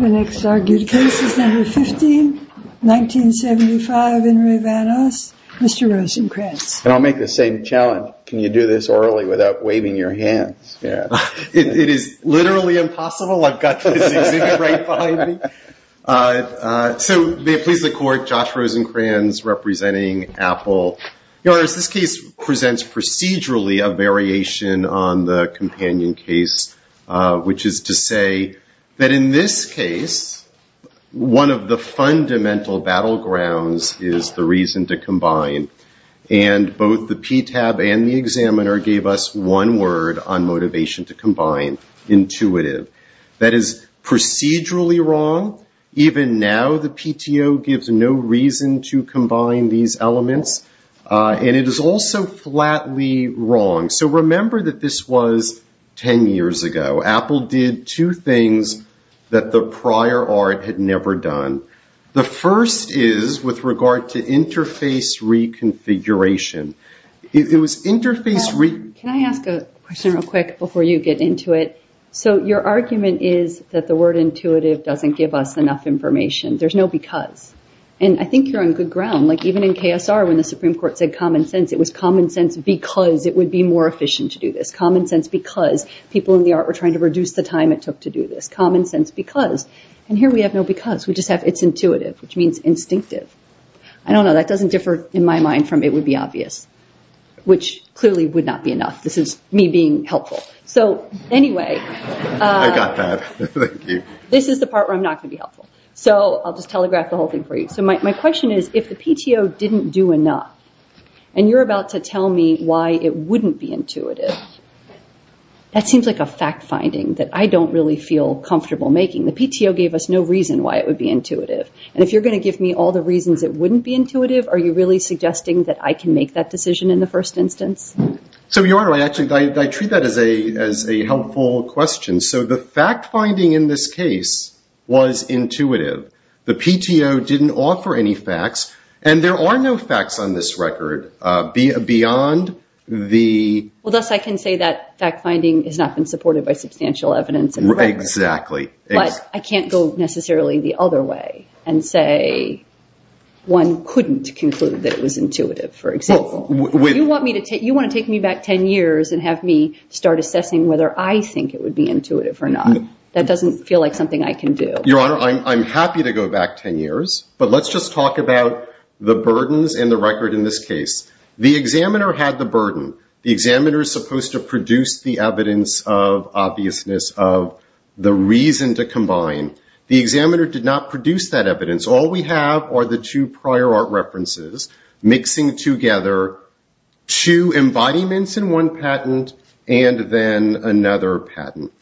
The next argued case is number 15, 1975 in Re Van Os, Mr. Rosencrantz. And I'll make the same challenge. Can you do this orally without waving your hands? It is literally impossible. I've got this exhibit right behind me. So may it please the court, Josh Rosencrantz representing Apple. Your honors, this case presents procedurally a variation on the companion case, which is to say that in this case, one of the fundamental battlegrounds is the reason to combine. And both the PTAB and the examiner gave us one word on motivation to combine, intuitive. That is procedurally wrong. Even now, the PTO gives no reason to combine these elements. And it is also flatly wrong. So remember that this was 10 years ago. Apple did two things that the prior art had never done. The first is with regard to interface reconfiguration. It was interface reconfiguration. Can I ask a question real quick before you get into it? So your argument is that the word intuitive doesn't give us enough information. There's no because. And I think you're on good ground. Like even in KSR, when the Supreme Court said common sense, it was common sense because it would be more efficient to do this. Common sense because people in the art were trying to reduce the time it took to do this. Common sense because. And here we have no because. We just have it's intuitive, which means instinctive. I don't know. That doesn't differ in my mind from it would be obvious, which clearly would not be enough. This is me being helpful. So anyway, this is the part where I'm not going to be helpful. So I'll just telegraph the whole thing for you. So my question is, if the PTO didn't do enough, and you're about to tell me why it wouldn't be intuitive, that seems like a fact finding that I don't really feel comfortable making. The PTO gave us no reason why it would be intuitive. And if you're going to give me all the reasons it wouldn't be intuitive, are you really suggesting that I can make that decision in the first instance? So Your Honor, I actually treat that as a helpful question. So the fact finding in this case was intuitive. The PTO didn't offer any facts. And there are no facts on this record beyond the. Well, thus I can say that fact finding has not been supported by substantial evidence in the record. Exactly. But I can't go necessarily the other way and say one couldn't conclude that it was intuitive, for example. You want to take me back 10 years and have me start assessing whether I think it would be intuitive or not. That doesn't feel like something I can do. Your Honor, I'm happy to go back 10 years. But let's just talk about the burdens and the record in this case. The examiner had the burden. The examiner is supposed to produce the evidence of obviousness, of the reason to combine. The examiner did not produce that evidence. All we have are the two prior art references, mixing together two embodiments in one patent and then another patent.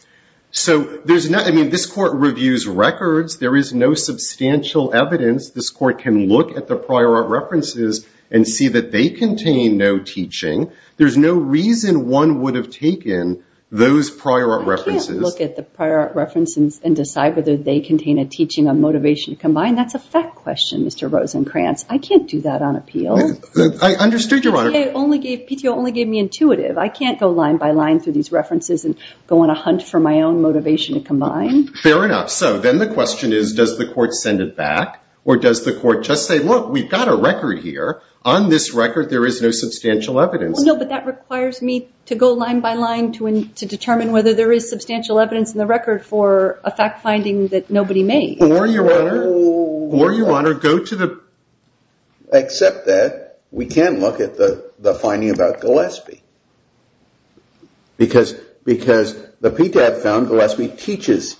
So this court reviews records. There is no substantial evidence this court can look at the prior art references and see that they contain no teaching. There's no reason one would have taken those prior art references. I can't look at the prior art references and decide whether they contain a teaching on motivation to combine. That's a fact question, Mr. Rosenkranz. I can't do that on appeal. I understood, Your Honor. PTO only gave me intuitive. I can't go line by line through these references and go on a hunt for my own motivation to combine. Fair enough. So then the question is, does the court send it back? Or does the court just say, look, we've got a record here. On this record, there is no substantial evidence. No, but that requires me to go line by line to determine whether there is substantial evidence in the record for a fact finding that nobody made. Or, Your Honor, go to the- Except that we can look at the finding about Gillespie. Because the PTAB found Gillespie teaches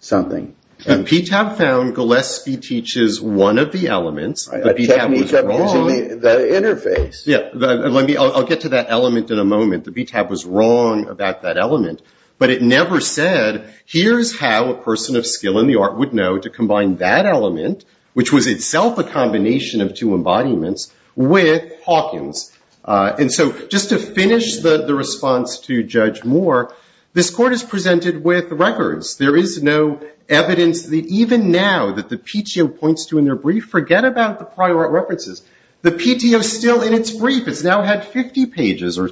something. The PTAB found Gillespie teaches one of the elements. The PTAB was wrong. I checked and he kept using the interface. Yeah, I'll get to that element in a moment. The PTAB was wrong about that element. But it never said, here's how a person of skill in the art would know to combine that element, which was itself a combination of two embodiments, with Hawkins. And so just to finish the response to Judge Moore, this court is presented with records. There is no evidence that even now that the PTO points to in their brief, forget about the prior art references. The PTO is still in its brief. It's now had 50 pages, or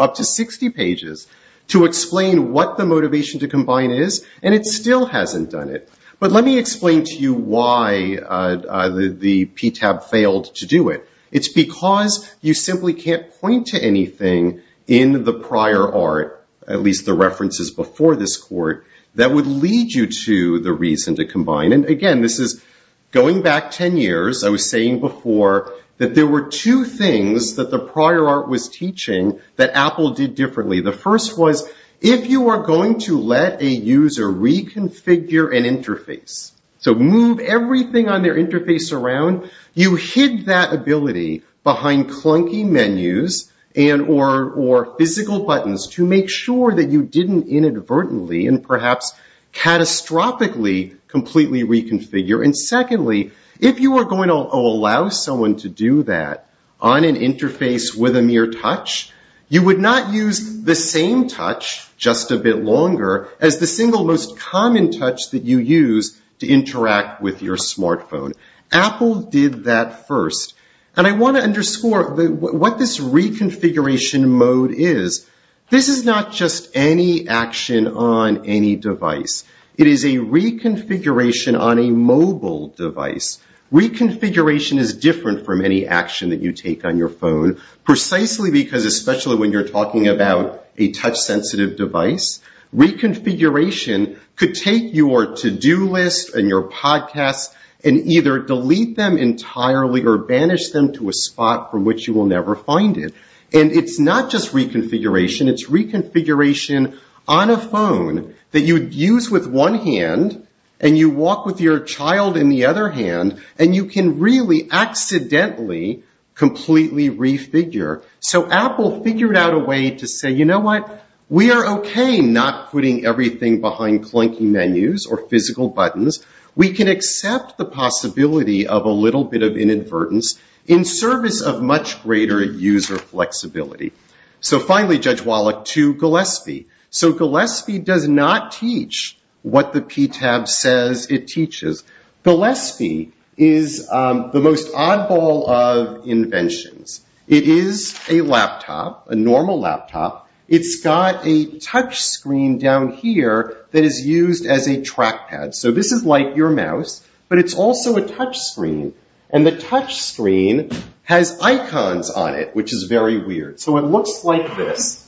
up to 60 pages, to explain what the motivation to combine is. And it still hasn't done it. But let me explain to you why the PTAB failed to do it. It's because you simply can't point to anything in the prior art, at least the references before this court, that would lead you to the reason to combine. And again, this is going back 10 years. I was saying before that there were two things that the prior art was teaching that Apple did differently. The first was, if you were going to let a user reconfigure an interface, so move everything on their interface around, you hid that ability behind clunky menus and or physical buttons to make sure that you didn't inadvertently and perhaps catastrophically completely reconfigure. And secondly, if you were going to allow someone to do that on an interface with a mere touch, you would not use the same touch, just a bit longer, as the single most common touch that you use to interact with your smartphone. Apple did that first. And I want to underscore what this reconfiguration mode is. This is not just any action on any device. It is a reconfiguration on a mobile device. Reconfiguration is different from any action that you take on your phone, precisely because, especially when you're talking about a touch-sensitive device, reconfiguration could take your to-do list and your podcasts and either delete them entirely or banish them to a spot from which you will never find it. And it's not just reconfiguration. It's reconfiguration on a phone that you'd use with one hand, and you walk with your child in the other hand, and you can really accidentally completely refigure. So Apple figured out a way to say, you know what? We are OK not putting everything behind clunky menus or physical buttons. We can accept the possibility of a little bit of inadvertence in service of much greater user flexibility. So finally, Judge Wallach, to Gillespie. So Gillespie does not teach what the P-Tab says it teaches. Gillespie is the most oddball of inventions. It is a laptop, a normal laptop. It's got a touch screen down here that is used as a trackpad. So this is like your mouse, but it's also a touch screen. And the touch screen has icons on it, which is very weird. So it looks like this.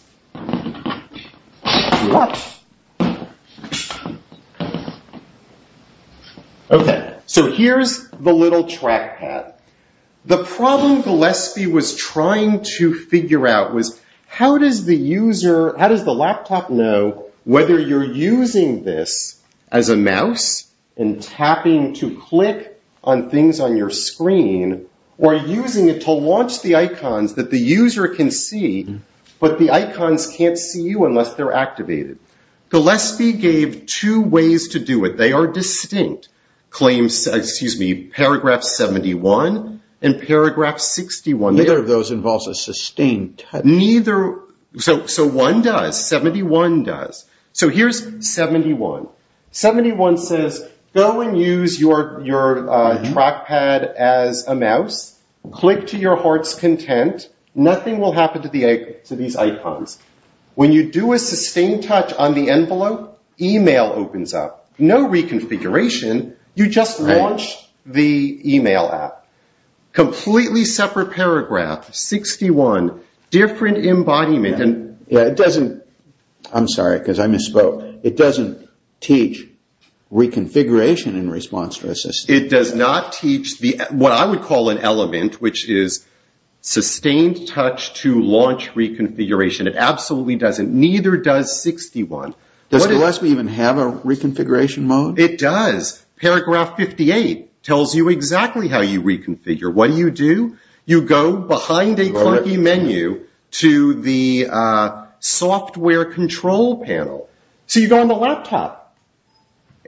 OK, so here's the little trackpad. The problem Gillespie was trying to figure out was, how does the laptop know whether you're using this as a mouse and tapping to click on things on your screen, or using it to launch the icons that the user can see, but the icons can't see you unless they're activated? Gillespie gave two ways to do it. They are distinct. Paragraph 71 and paragraph 61. Neither of those involves a sustained touch. So one does. 71 does. So here's 71. 71 says, go and use your trackpad as a mouse. Click to your heart's content. Nothing will happen to these icons. When you do a sustained touch on the envelope, email opens up. No reconfiguration. You just launch the email app. Completely separate paragraph, 61. Different embodiment. I'm sorry, because I misspoke. It doesn't teach reconfiguration in response to a system. It does not teach what I would call an element, which is sustained touch to launch reconfiguration. It absolutely doesn't. Neither does 61. Does Gillespie even have a reconfiguration mode? It does. Paragraph 58 tells you exactly how you reconfigure. What do you do? You go behind a clunky menu to the software control panel. So you go on the laptop.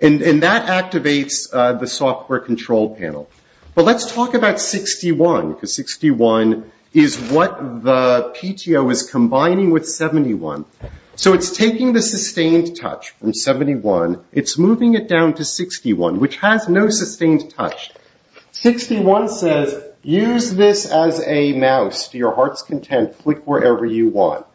And that activates the software control panel. But let's talk about 61, because 61 is what the PTO is combining with 71. So it's taking the sustained touch from 71. It's moving it down to 61, which has no sustained touch. 61 says, use this as a mouse to your heart's content. Click wherever you want.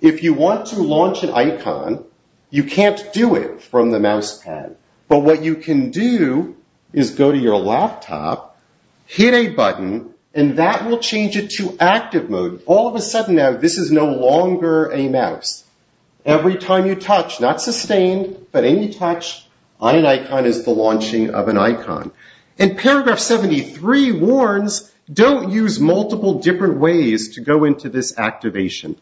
If you want to launch an icon, you can't do it from the mouse pad. But what you can do is go to your laptop, hit a button, and that will change it to active mode. All of a sudden now, this is no longer a mouse. Every time you touch, not sustained, but any touch, on an icon is the launching of an icon. And paragraph 73 warns, don't use multiple different ways to go into this activation.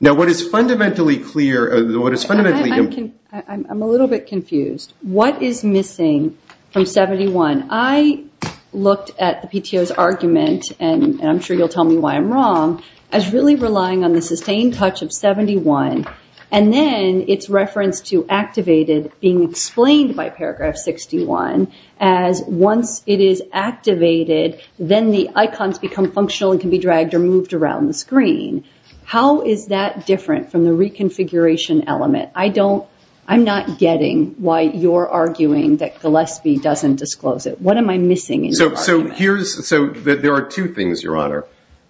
Now, what is fundamentally clear, what is fundamentally I'm a little bit confused. What is missing from 71? I looked at the PTO's argument, and I'm sure you'll tell me why I'm wrong, as really relying on the sustained touch of 71. And then its reference to activated being explained by paragraph 61, as once it is activated, then the icons become functional and can be dragged or moved around the screen. How is that different from the reconfiguration element? I'm not getting why you're arguing that Gillespie doesn't disclose it. What am I missing in your argument? So there are two things, Your Honor.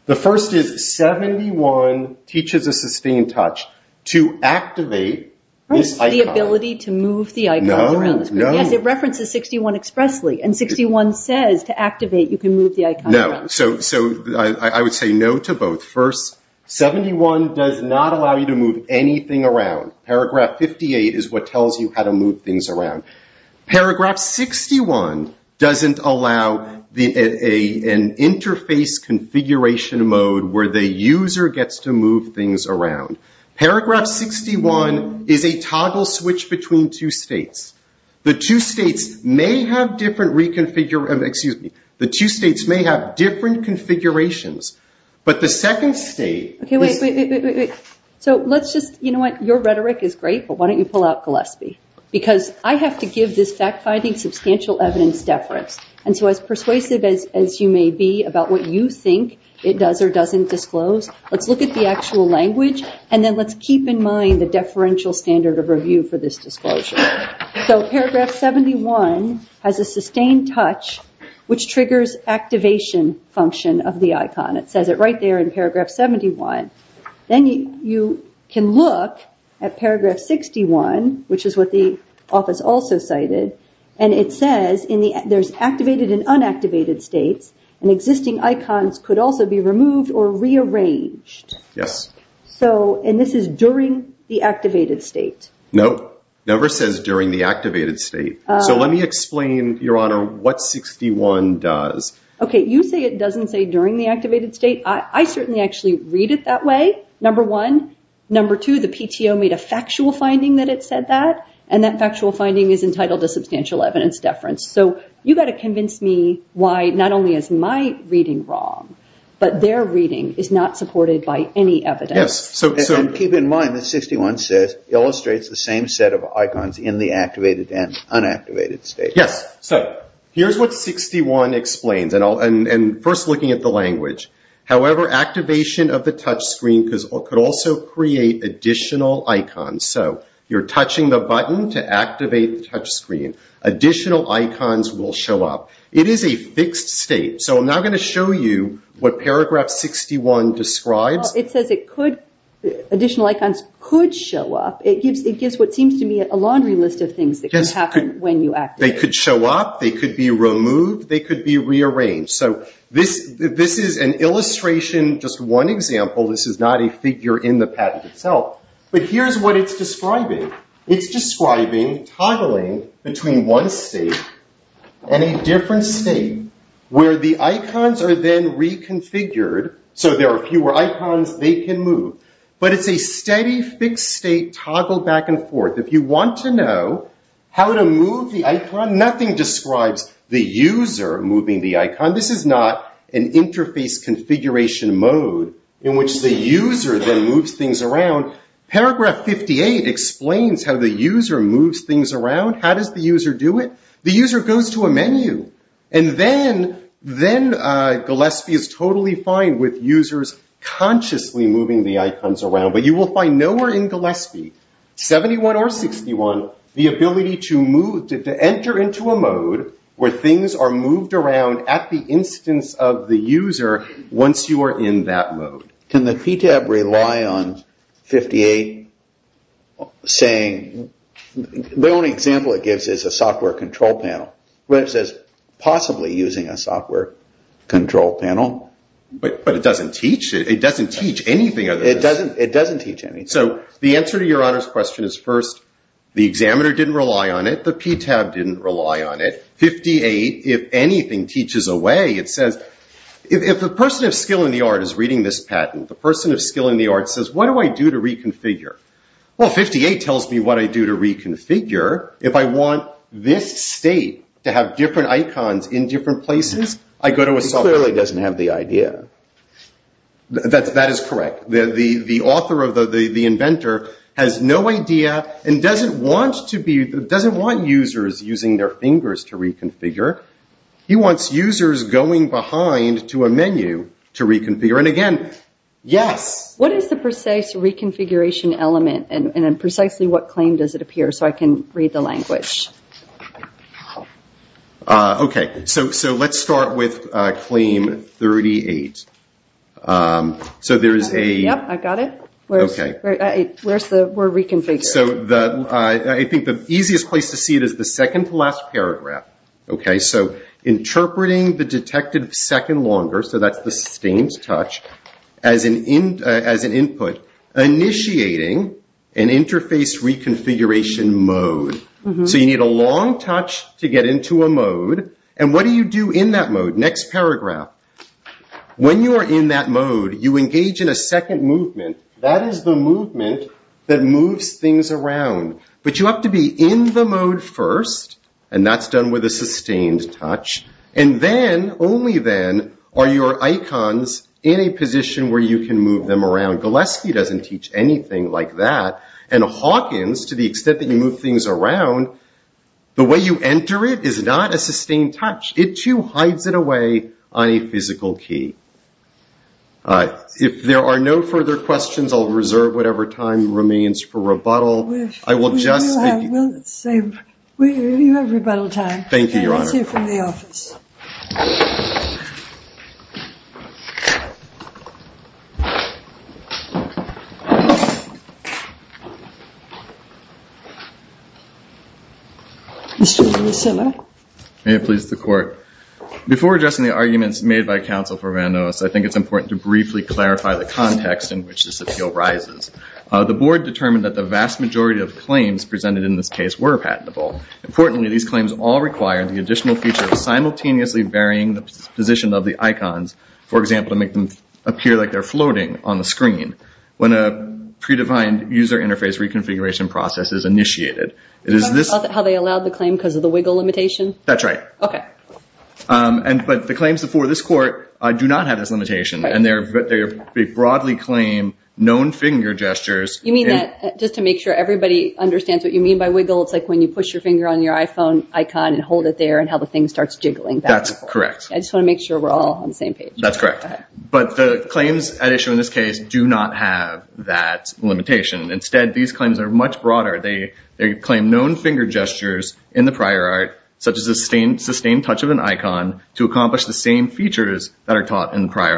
The first is 71 teaches a sustained touch to activate this icon. The ability to move the icons around the screen. No, no. Yes, it references 61 expressly. And 61 says to activate, you can move the icon around. No, so I would say no to both. First, 71 does not allow you to move anything around. Paragraph 58 is what tells you how to move things around. Paragraph 61 doesn't allow an interface configuration mode where the user gets to move things around. Paragraph 61 is a toggle switch between two states. The two states may have different reconfigure, excuse me, the two states may have different configurations. But the second state is. So let's just, you know what, your rhetoric is great, but why don't you pull out Gillespie? Because I have to give this fact-finding substantial evidence deference. And so as persuasive as you may be about what you think it does or doesn't disclose, let's look at the actual language, and then let's keep in mind the deferential standard of review for this disclosure. So paragraph 71 has a sustained touch which triggers activation function of the icon. It says it right there in paragraph 71. Then you can look at paragraph 61, which is what the office also cited. And it says there's activated and unactivated states. And existing icons could also be removed or rearranged. Yes. And this is during the activated state. No, never says during the activated state. So let me explain, your honor, what 61 does. OK, you say it doesn't say during the activated state. I certainly actually read it that way, number one. Number two, the PTO made a factual finding that it said that. And that factual finding is entitled to substantial evidence deference. So you've got to convince me why not only is my reading wrong, but their reading is not supported by any evidence. Keep in mind that 61 illustrates the same set of icons in the activated and unactivated state. Yes. So here's what 61 explains, and first looking at the language. However, activation of the touch screen could also create additional icons. So you're touching the button to activate the touch screen. Additional icons will show up. It is a fixed state. So I'm now going to show you what paragraph 61 describes. It says additional icons could show up. It gives what seems to me a laundry list of things that could happen when you activate. They could show up. They could be removed. They could be rearranged. So this is an illustration, just one example. This is not a figure in the patent itself. But here's what it's describing. It's describing toggling between one state and a different state, where the icons are then reconfigured. So there are fewer icons. They can move. But it's a steady, fixed state toggled back and forth. If you want to know how to move the icon, nothing describes the user moving the icon. This is not an interface configuration mode in which the user then moves things around. Paragraph 58 explains how the user moves things around. How does the user do it? The user goes to a menu. And then Gillespie is totally fine with users consciously moving the icons around. But you will find nowhere in Gillespie, 71 or 61, the ability to enter into a mode where things are moved around at the instance of the user once you are in that mode. Can the PTAB rely on 58 saying, the only example it gives is a software control panel? Well, it says possibly using a software control panel. But it doesn't teach. It doesn't teach anything other than this. It doesn't teach anything. So the answer to your honor's question is first, the examiner didn't rely on it. The PTAB didn't rely on it. 58, if anything, teaches a way. It says, if the person of skill in the art is reading this patent, the person of skill in the art says, what do I do to reconfigure? Well, 58 tells me what I do to reconfigure. If I want this state to have different icons in different places, I go to a software. It clearly doesn't have the idea. That is correct. The author or the inventor has no idea and doesn't want users using their fingers to reconfigure. He wants users going behind to a menu to reconfigure. And again, yes. What is the precise reconfiguration element? And precisely what claim does it appear? So I can read the language. OK, so let's start with claim 38. So there is a. Yep, I've got it. We're reconfiguring. I think the easiest place to see it is the second to last paragraph. So interpreting the detected second longer, so that's the sustained touch, as an input, initiating an interface reconfiguration mode. So you need a long touch to get into a mode. And what do you do in that mode? Next paragraph. When you are in that mode, you engage in a second movement. That is the movement that moves things around. But you have to be in the mode first. And that's done with a sustained touch. And then, only then, are your icons in a position where you can move them around. Gillespie doesn't teach anything like that. And Hawkins, to the extent that you move things around, the way you enter it is not a sustained touch. It too hides it away on a physical key. If there are no further questions, I'll reserve whatever time remains for rebuttal. I will just speak. We do have rebuttal time. Thank you, Your Honor. Let's hear from the office. Mr. Lucilla. May it please the Court. Before addressing the arguments made by counsel for Randois, I think it's important to briefly clarify the context in which this appeal rises. The board determined that the vast majority of claims presented in this case were patentable. Importantly, these claims all require the additional feature of simultaneously varying the position of the icons, for example, to make them appear like they're floating on the screen when a predefined user interface reconfiguration process is initiated. It is this- How they allowed the claim because of the wiggle limitation? That's right. Okay. But the claims before this court do not have this limitation. And they broadly claim known finger gestures. You mean that just to make sure everybody understands what you mean by wiggle, it's like when you push your finger on your iPhone icon and hold it there and how the thing starts jiggling. That's correct. I just want to make sure we're all on the same page. That's correct. But the claims at issue in this case do not have that limitation. Instead, these claims are much broader. They claim known finger gestures in the prior art, such as a sustained touch of an icon to accomplish the same features that are taught in the prior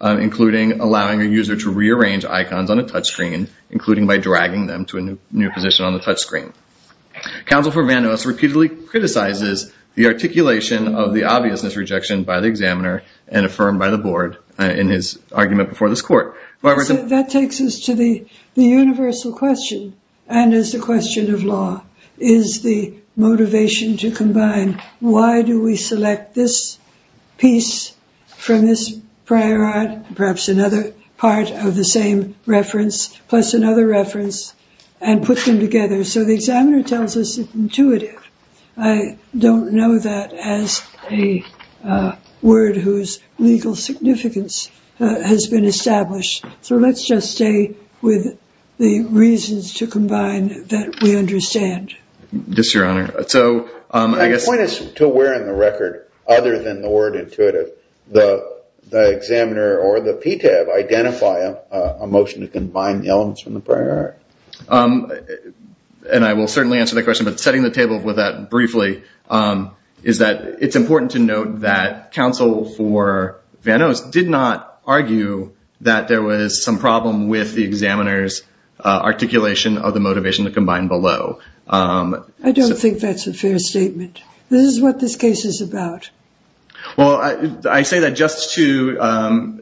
art, including allowing a user to rearrange icons on a touch screen, including by dragging them to a new position on the touch screen. Counsel for Van Nuys repeatedly criticizes the articulation of the obviousness rejection by the examiner and affirmed by the board in his argument before this court. That takes us to the universal question and is the question of law. Is the motivation to combine why do we select this piece from this prior art, perhaps another part of the same reference, plus another reference, and put them together? So the examiner tells us it's intuitive. I don't know that as a word whose legal significance has been established. So let's just stay with the reasons to combine that we understand. Yes, Your Honor. So I guess. The point is to where in the record other than the word intuitive, the examiner or the PTAB identify a motion to combine the elements from the prior art. And I will certainly answer that question, but setting the table with that briefly is that it's important to note that counsel for Van Nuys did not argue that there was some problem with the examiner's articulation of the motivation to combine below. I don't think that's a fair statement. This is what this case is about. Well, I say that just to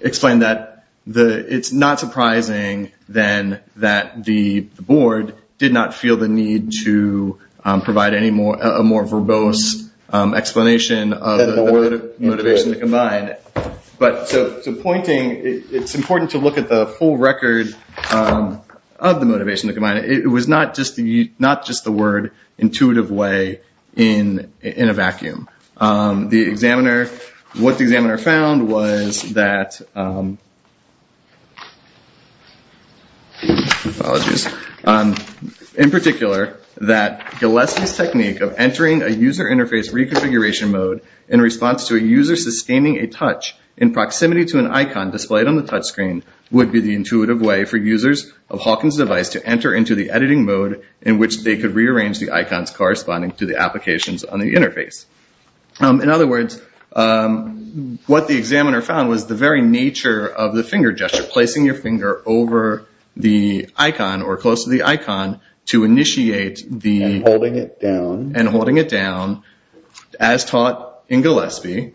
explain that. It's not surprising then that the board did not feel the need to provide any more verbose explanation of the word motivation to combine. But so pointing, it's important to look at the full record of the motivation to combine. It was not just the word intuitive way in a vacuum. The examiner, what the examiner found was that, apologies, in particular that Gillespie's technique of entering a user interface reconfiguration mode in response to a user sustaining a touch in proximity to an icon displayed on the touch screen would be the intuitive way for users of Hawkins' device to enter into the editing mode in which they could rearrange the icons corresponding to the applications on the interface. In other words, what the examiner found was the very nature of the finger gesture, placing your finger over the icon or close to the icon to initiate the. And holding it down. And holding it down, as taught in Gillespie,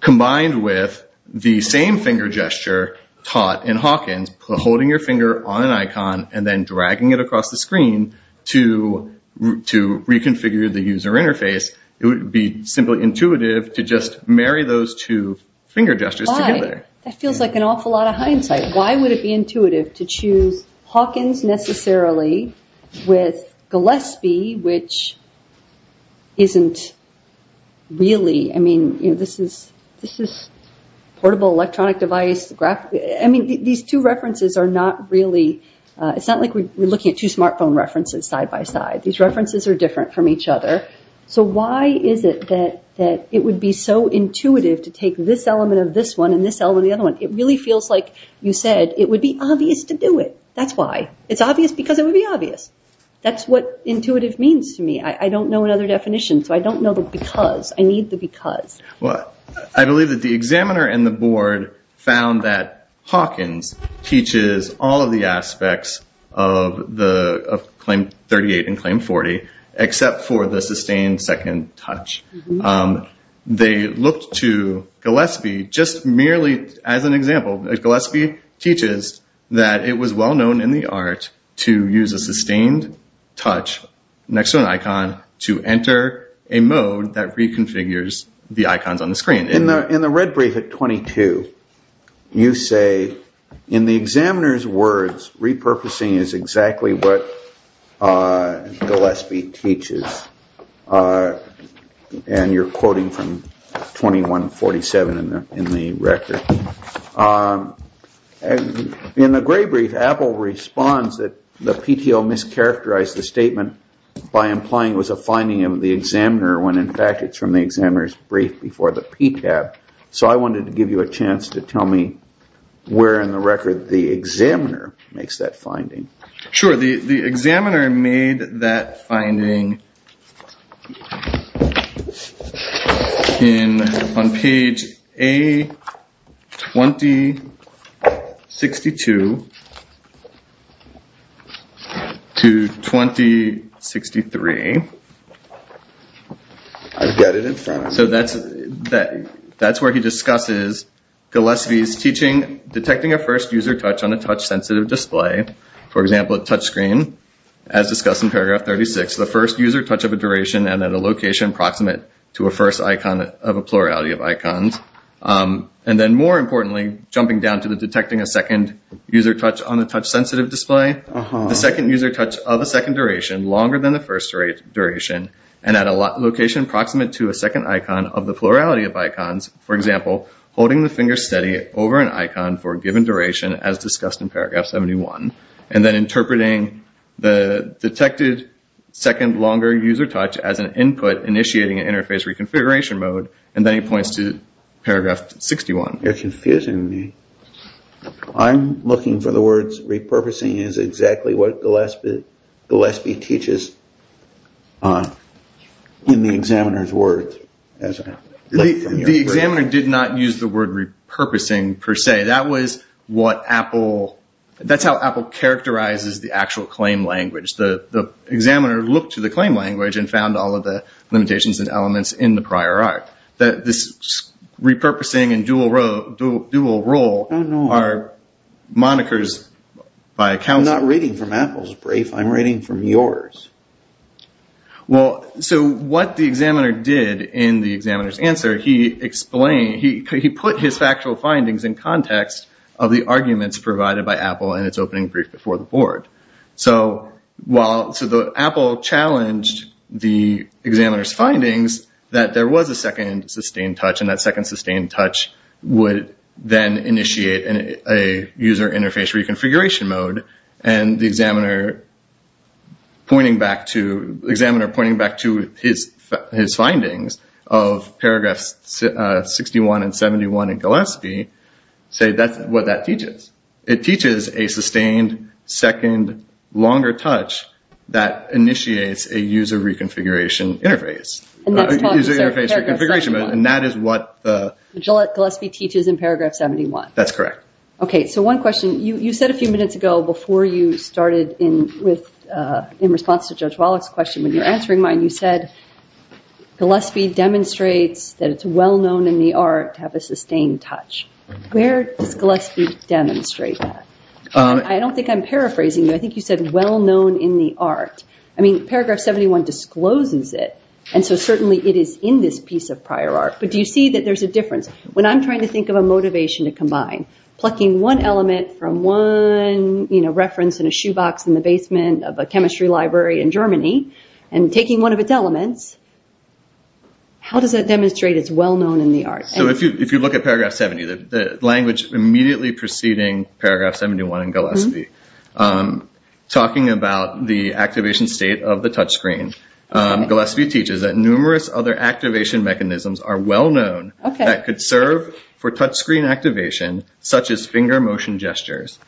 combined with the same finger gesture taught in Hawkins, holding your finger on an icon and then dragging it across the screen to reconfigure the user interface, it would be simply intuitive to just marry those two finger gestures together. That feels like an awful lot of hindsight. Why would it be intuitive to choose Hawkins necessarily with Gillespie, which isn't really, I mean, this is portable electronic device. I mean, these two references are not really, it's not like we're looking at two smartphone references side by side. These references are different from each other. So why is it that it would be so intuitive to take this element of this one and this element of the other one? It really feels like you said, it would be obvious to do it. That's why. It's obvious because it would be obvious. That's what intuitive means to me. I don't know another definition, so I don't know the because. I need the because. I believe that the examiner and the board found that Hawkins teaches all of the aspects of Claim 38 and Claim 40, except for the sustained second touch. They looked to Gillespie just merely as an example. Gillespie teaches that it was well known in the art to use a sustained touch next to an icon to enter a mode that reconfigures the icons on the screen. In the red brief at 22, you say, in the examiner's words, repurposing is exactly what Gillespie teaches. And you're quoting from 2147 in the record. And in the gray brief, Apple responds that the PTO mischaracterized the statement by implying it was a finding of the examiner when in fact it's from the examiner's brief before the PTAB. So I wanted to give you a chance to tell me where in the record the examiner makes that finding. Sure, the examiner made that finding in on page A2062 to 2063. I get it in front. So that's where he discusses Gillespie's teaching detecting a first user touch on a touch-sensitive display. For example, a touch screen as discussed in paragraph 36. The first user touch of a duration and at a location approximate to a first icon of a plurality of icons. And then more importantly, jumping down to the detecting a second user touch on the touch-sensitive display. The second user touch of a second duration longer than the first duration and at a location approximate to a second icon of the plurality of icons. For example, holding the finger steady over an icon for a given duration as discussed in paragraph 71. And then interpreting the detected second longer user touch as an input initiating an interface reconfiguration mode. And then he points to paragraph 61. You're confusing me. I'm looking for the words repurposing is exactly what Gillespie teaches in the examiner's words. The examiner did not use the word repurposing per se. That was what Apple, that's how Apple characterizes the actual claim language. The examiner looked to the claim language and found all of the limitations and elements in the prior art. This repurposing and dual role are monikers by account. I'm not reading from Apple's brief. I'm reading from yours. Well, so what the examiner did in the examiner's answer, he explained, he put his factual findings in context of the arguments provided by Apple in its opening brief before the board. So while, so the Apple challenged the examiner's findings that there was a second sustained touch and that second sustained touch would then initiate a user interface reconfiguration mode. And the examiner pointing back to his findings of paragraphs 61 and 71 in Gillespie, say that's what that teaches. It teaches a sustained second longer touch that initiates a user reconfiguration interface. And that is what Gillespie teaches in paragraph 71. That's correct. Okay, so one question you said a few minutes ago before you started in response to Judge Wallach's question, when you're answering mine, you said Gillespie demonstrates that it's well-known in the art to have a sustained touch. Where does Gillespie demonstrate that? I don't think I'm paraphrasing you. I think you said well-known in the art. I mean, paragraph 71 discloses it. And so certainly it is in this piece of prior art, but do you see that there's a difference? When I'm trying to think of a motivation to combine, plucking one element from one reference in a shoebox in the basement of a chemistry library in Germany and taking one of its elements, how does that demonstrate it's well-known in the art? So if you look at paragraph 70, the language immediately preceding paragraph 71 in Gillespie talking about the activation state of the touchscreen, Gillespie teaches that numerous other activation mechanisms are well-known that could serve for touchscreen activation, such as finger motion gestures.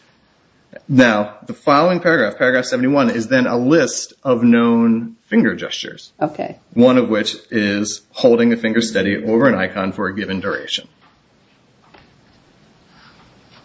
Now, the following paragraph, paragraph 71, is then a list of known finger gestures, one of which is holding a finger steady over an icon for a given duration.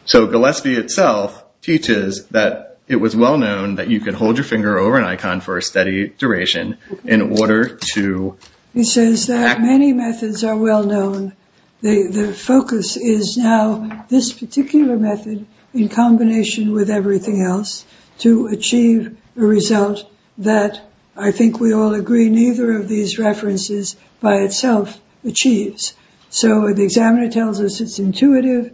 So Gillespie itself teaches that it was well-known that you could hold your finger over an icon for a steady duration in order to- He says that many methods are well-known. The focus is now this particular method in combination with everything else to achieve a result that, I think we all agree, neither of these references by itself achieves. So the examiner tells us it's intuitive.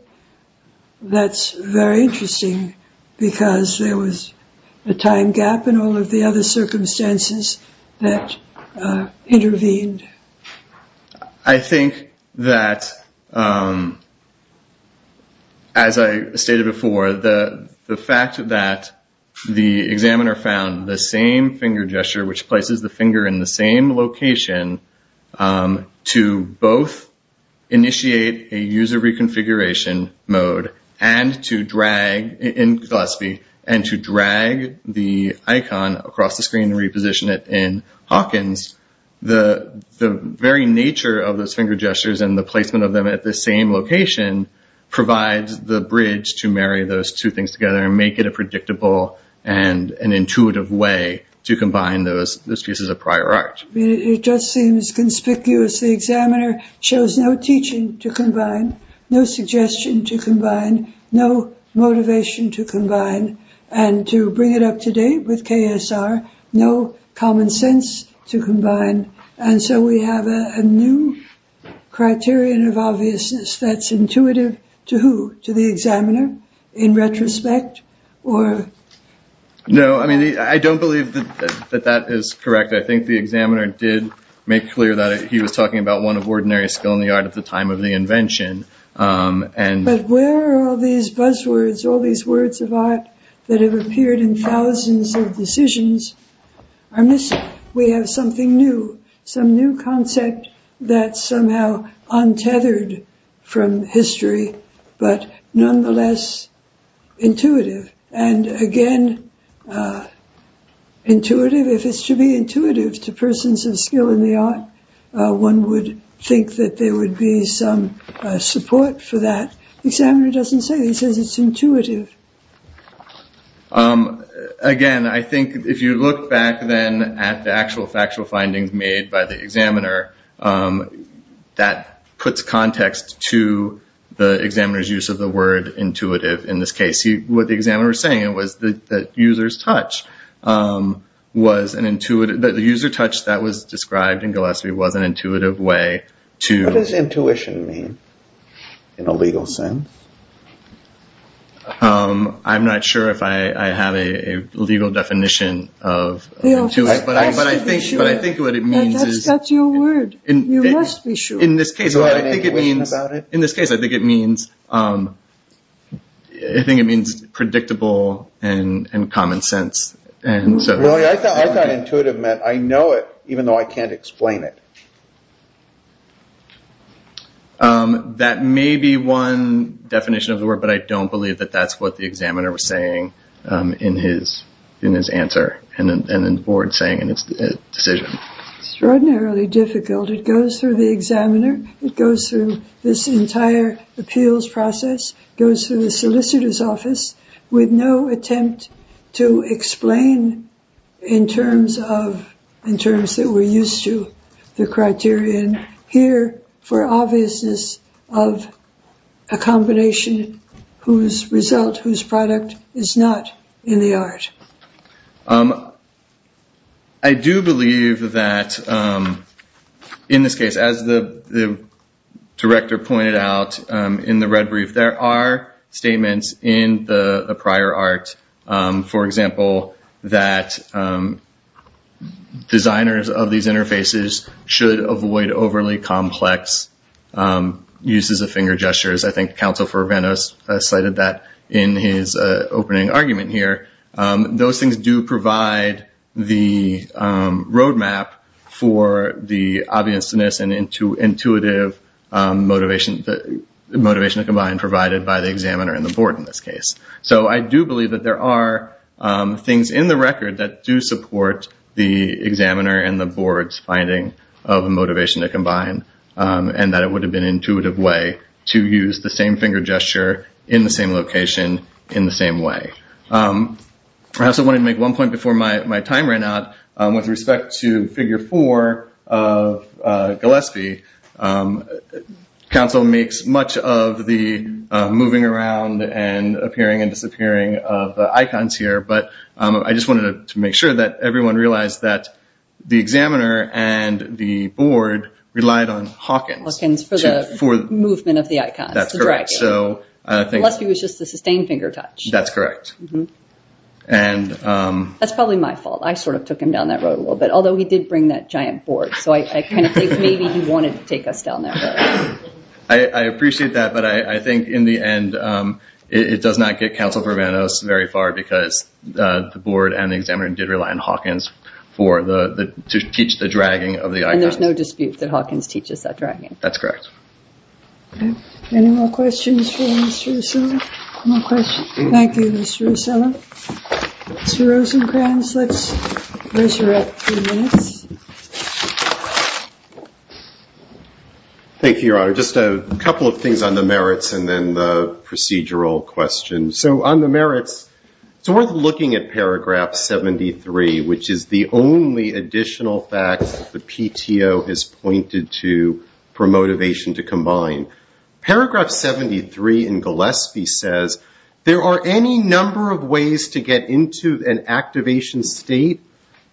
That's very interesting because there was a time gap in all of the other circumstances that intervened. I think that, as I stated before, the fact that the examiner found the same finger gesture which places the finger in the same location to both initiate a user reconfiguration mode and to drag, in Gillespie, and to drag the icon across the screen and reposition it in Hawkins, the very nature of those finger gestures and the placement of them at the same location provides the bridge to marry those two things together and make it a predictable and an intuitive way to combine those pieces of prior art. It just seems conspicuous. The examiner shows no teaching to combine, no suggestion to combine, no motivation to combine, and to bring it up to date with KSR, no common sense to combine. And so we have a new criterion of obviousness that's intuitive to who? To the examiner, in retrospect, or? No, I mean, I don't believe that that is correct. I think the examiner did make clear that he was talking about one of ordinary skill in the art at the time of the invention, and- But where are all these buzzwords, all these words of art that have appeared in thousands of decisions are missing? We have something new, some new concept that's somehow untethered from history, but nonetheless intuitive. And again, intuitive, if it's to be intuitive to persons of skill in the art, one would think that there would be some support for that. Examiner doesn't say, he says it's intuitive. Again, I think if you look back then at the actual factual findings made by the examiner, that puts context to the examiner's use of the word intuitive in this case. What the examiner was saying was that user's touch was an intuitive, that the user touch that was described in Gillespie was an intuitive way to- What does intuition mean in a legal sense? I'm not sure if I have a legal definition of- But I think what it means is- That's your word, you must be sure. In this case, I think it means, in this case, I think it means, I think it means predictable and common sense. And so- Really, I thought intuitive meant I know it even though I can't explain it. That may be one definition of the word, but I don't believe that that's what the examiner was saying in his answer and then the board saying in its decision. Extraordinarily difficult. It goes through the examiner, it goes through this entire appeals process, goes through the solicitor's office with no attempt to explain in terms of, in terms that we're used to the criterion here for obviousness of a combination whose result, whose product is not in the art. I do believe that in this case, as the director pointed out in the red brief, there are statements in the prior art, for example, that designers of these interfaces should avoid overly complex uses of finger gestures. I think counsel for Venice cited that in his opening argument here. Those things do provide the roadmap for the obviousness and intuitive motivation, motivation to combine provided by the examiner and the board in this case. So I do believe that there are things in the record that do support the examiner and the board's finding of motivation to combine and that it would have been intuitive way to use the same finger gesture in the same location in the same way. I also wanted to make one point before my time ran out. With respect to figure four of Gillespie, counsel makes much of the moving around and appearing and disappearing of the icons here, but I just wanted to make sure that everyone realized that the examiner and the board relied on Hawkins. Hawkins for the movement of the icons. That's correct. So Gillespie was just the sustained finger touch. That's correct. That's probably my fault. I sort of took him down that road a little bit, although he did bring that giant board. So I kind of think maybe he wanted to take us down that road. I appreciate that, but I think in the end, it does not get counsel for Venice very far because the board and the examiner did rely on Hawkins for the, to teach the dragging of the icons. And there's no dispute that Hawkins teaches that dragging. That's correct. Any more questions for Mr. O'Sullivan? One more question. Thank you, Mr. O'Sullivan. Mr. Rosenkranz, let's raise your at three minutes. Thank you, Your Honor. Just a couple of things on the merits and then the procedural questions. So on the merits, it's worth looking at paragraph 73, which is the only additional fact that the PTO has pointed to for motivation to combine. Paragraph 73 in Gillespie says, there are any number of ways to get into an activation state.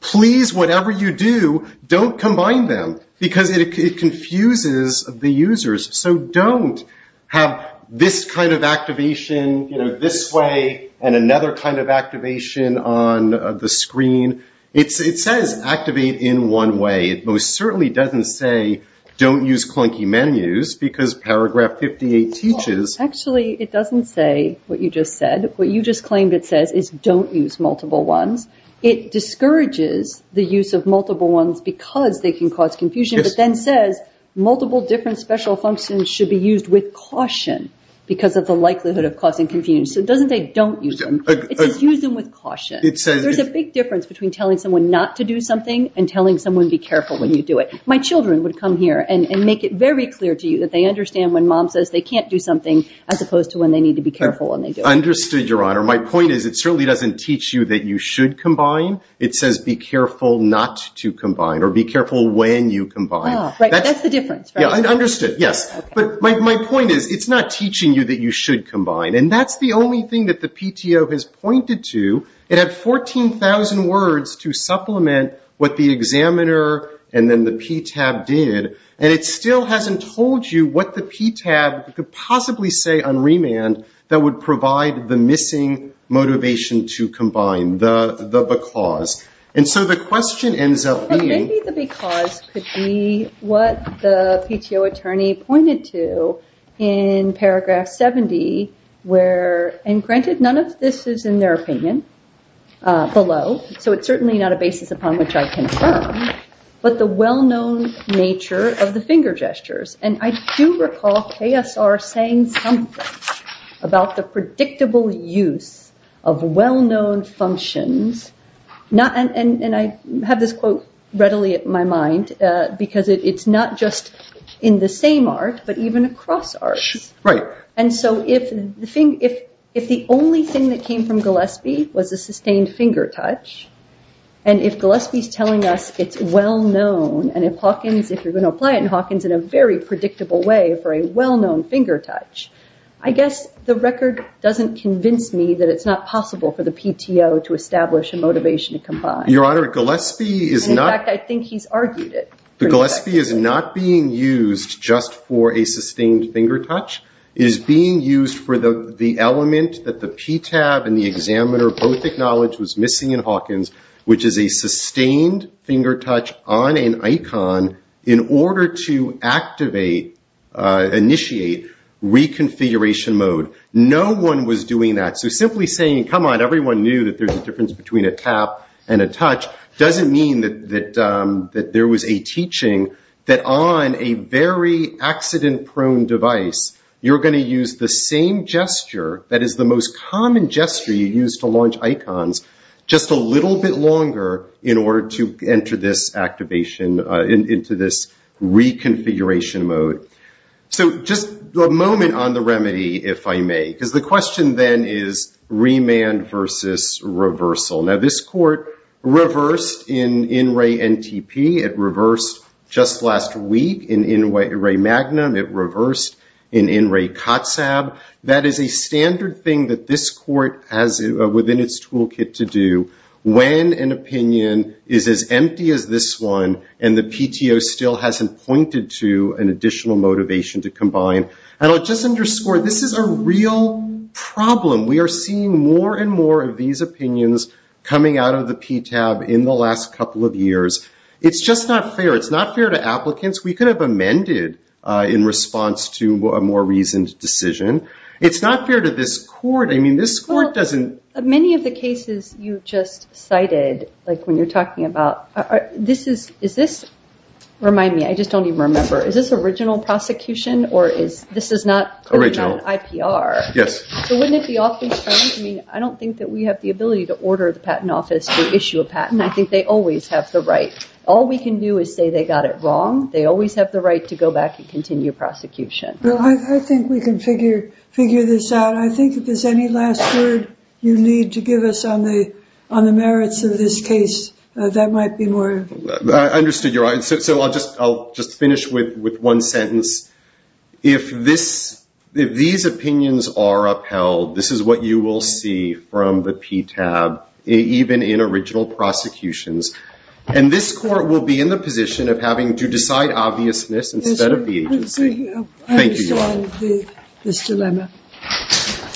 Please, whatever you do, don't combine them because it confuses the users. So don't have this kind of activation this way and another kind of activation on the screen. It says activate in one way. It most certainly doesn't say don't use clunky menus because paragraph 58 teaches. Actually, it doesn't say what you just said. What you just claimed it says is don't use multiple ones. It discourages the use of multiple ones because they can cause confusion, but then says multiple different special functions should be used with caution because of the likelihood of causing confusion. So it doesn't say don't use them. It says use them with caution. There's a big difference between telling someone not to do something and telling someone be careful when you do it. My children would come here and make it very clear to you that they understand when mom says they can't do something as opposed to when they need to be careful when they do it. Understood, Your Honor. My point is it certainly doesn't teach you that you should combine. It says be careful not to combine or be careful when you combine. Right, that's the difference, right? Yeah, understood, yes. But my point is it's not teaching you that you should combine. And that's the only thing that the PTO has pointed to. It had 14,000 words to supplement what the examiner and then the PTAB did, and it still hasn't told you what the PTAB could possibly say on remand that would provide the missing motivation to combine, the because. And so the question ends up being- But maybe the because could be what the PTO attorney pointed to in paragraph 70 where, and granted, none of this is in their opinion below, so it's certainly not a basis upon which I confirm, but the well-known nature of the finger gestures. And I do recall KSR saying something about the predictable use of well-known functions, not, and I have this quote readily in my mind because it's not just in the same art, but even across arts. Right. And so if the only thing that came from Gillespie was a sustained finger touch, and if Gillespie's telling us it's well-known, and if Hawkins, if you're gonna apply it in Hawkins, in a very predictable way for a well-known finger touch, I guess the record doesn't convince me that it's not possible for the PTO to establish a motivation to combine. Your Honor, Gillespie is not- In fact, I think he's argued it. The Gillespie is not being used just for a sustained finger touch. It is being used for the element that the PTAB and the examiner both acknowledge was missing in Hawkins, which is a sustained finger touch on an icon in order to activate, initiate reconfiguration mode. No one was doing that. So simply saying, come on, everyone knew that there's a difference between a tap and a touch doesn't mean that there was a teaching that on a very accident-prone device, you're gonna use the same gesture, that is the most common gesture you use to launch icons, just a little bit longer in order to enter this activation into this reconfiguration mode. So just a moment on the remedy, if I may, because the question then is remand versus reversal. Now, this court reversed in In Re NTP. It reversed just last week in In Re Magnum. It reversed in In Re COTSAB. That is a standard thing that this court has within its toolkit to do when an opinion is as empty as this one and the PTO still hasn't pointed to an additional motivation to combine. And I'll just underscore, this is a real problem. We are seeing more and more of these opinions coming out of the PTAB in the last couple of years. It's just not fair. It's not fair to applicants. We could have amended in response to a more reasoned decision. It's not fair to this court. I mean, this court doesn't. Many of the cases you just cited, like when you're talking about, this is, is this, remind me, I just don't even remember, is this original prosecution or is this is not IPR? Yes. So wouldn't it be awfully strange? I mean, I don't think that we have the ability to order the patent office to issue a patent. I think they always have the right. All we can do is say they got it wrong. They always have the right to go back and continue prosecution. Well, I think we can figure this out. I think if there's any last word you need to give us on the merits of this case, that might be more. I understood your answer. So I'll just finish with one sentence. If these opinions are upheld, this is what you will see from the PTAB, even in original prosecutions. And this court will be in the position of having to decide obviousness instead of the agency. Thank you, Your Honor. I understand this dilemma.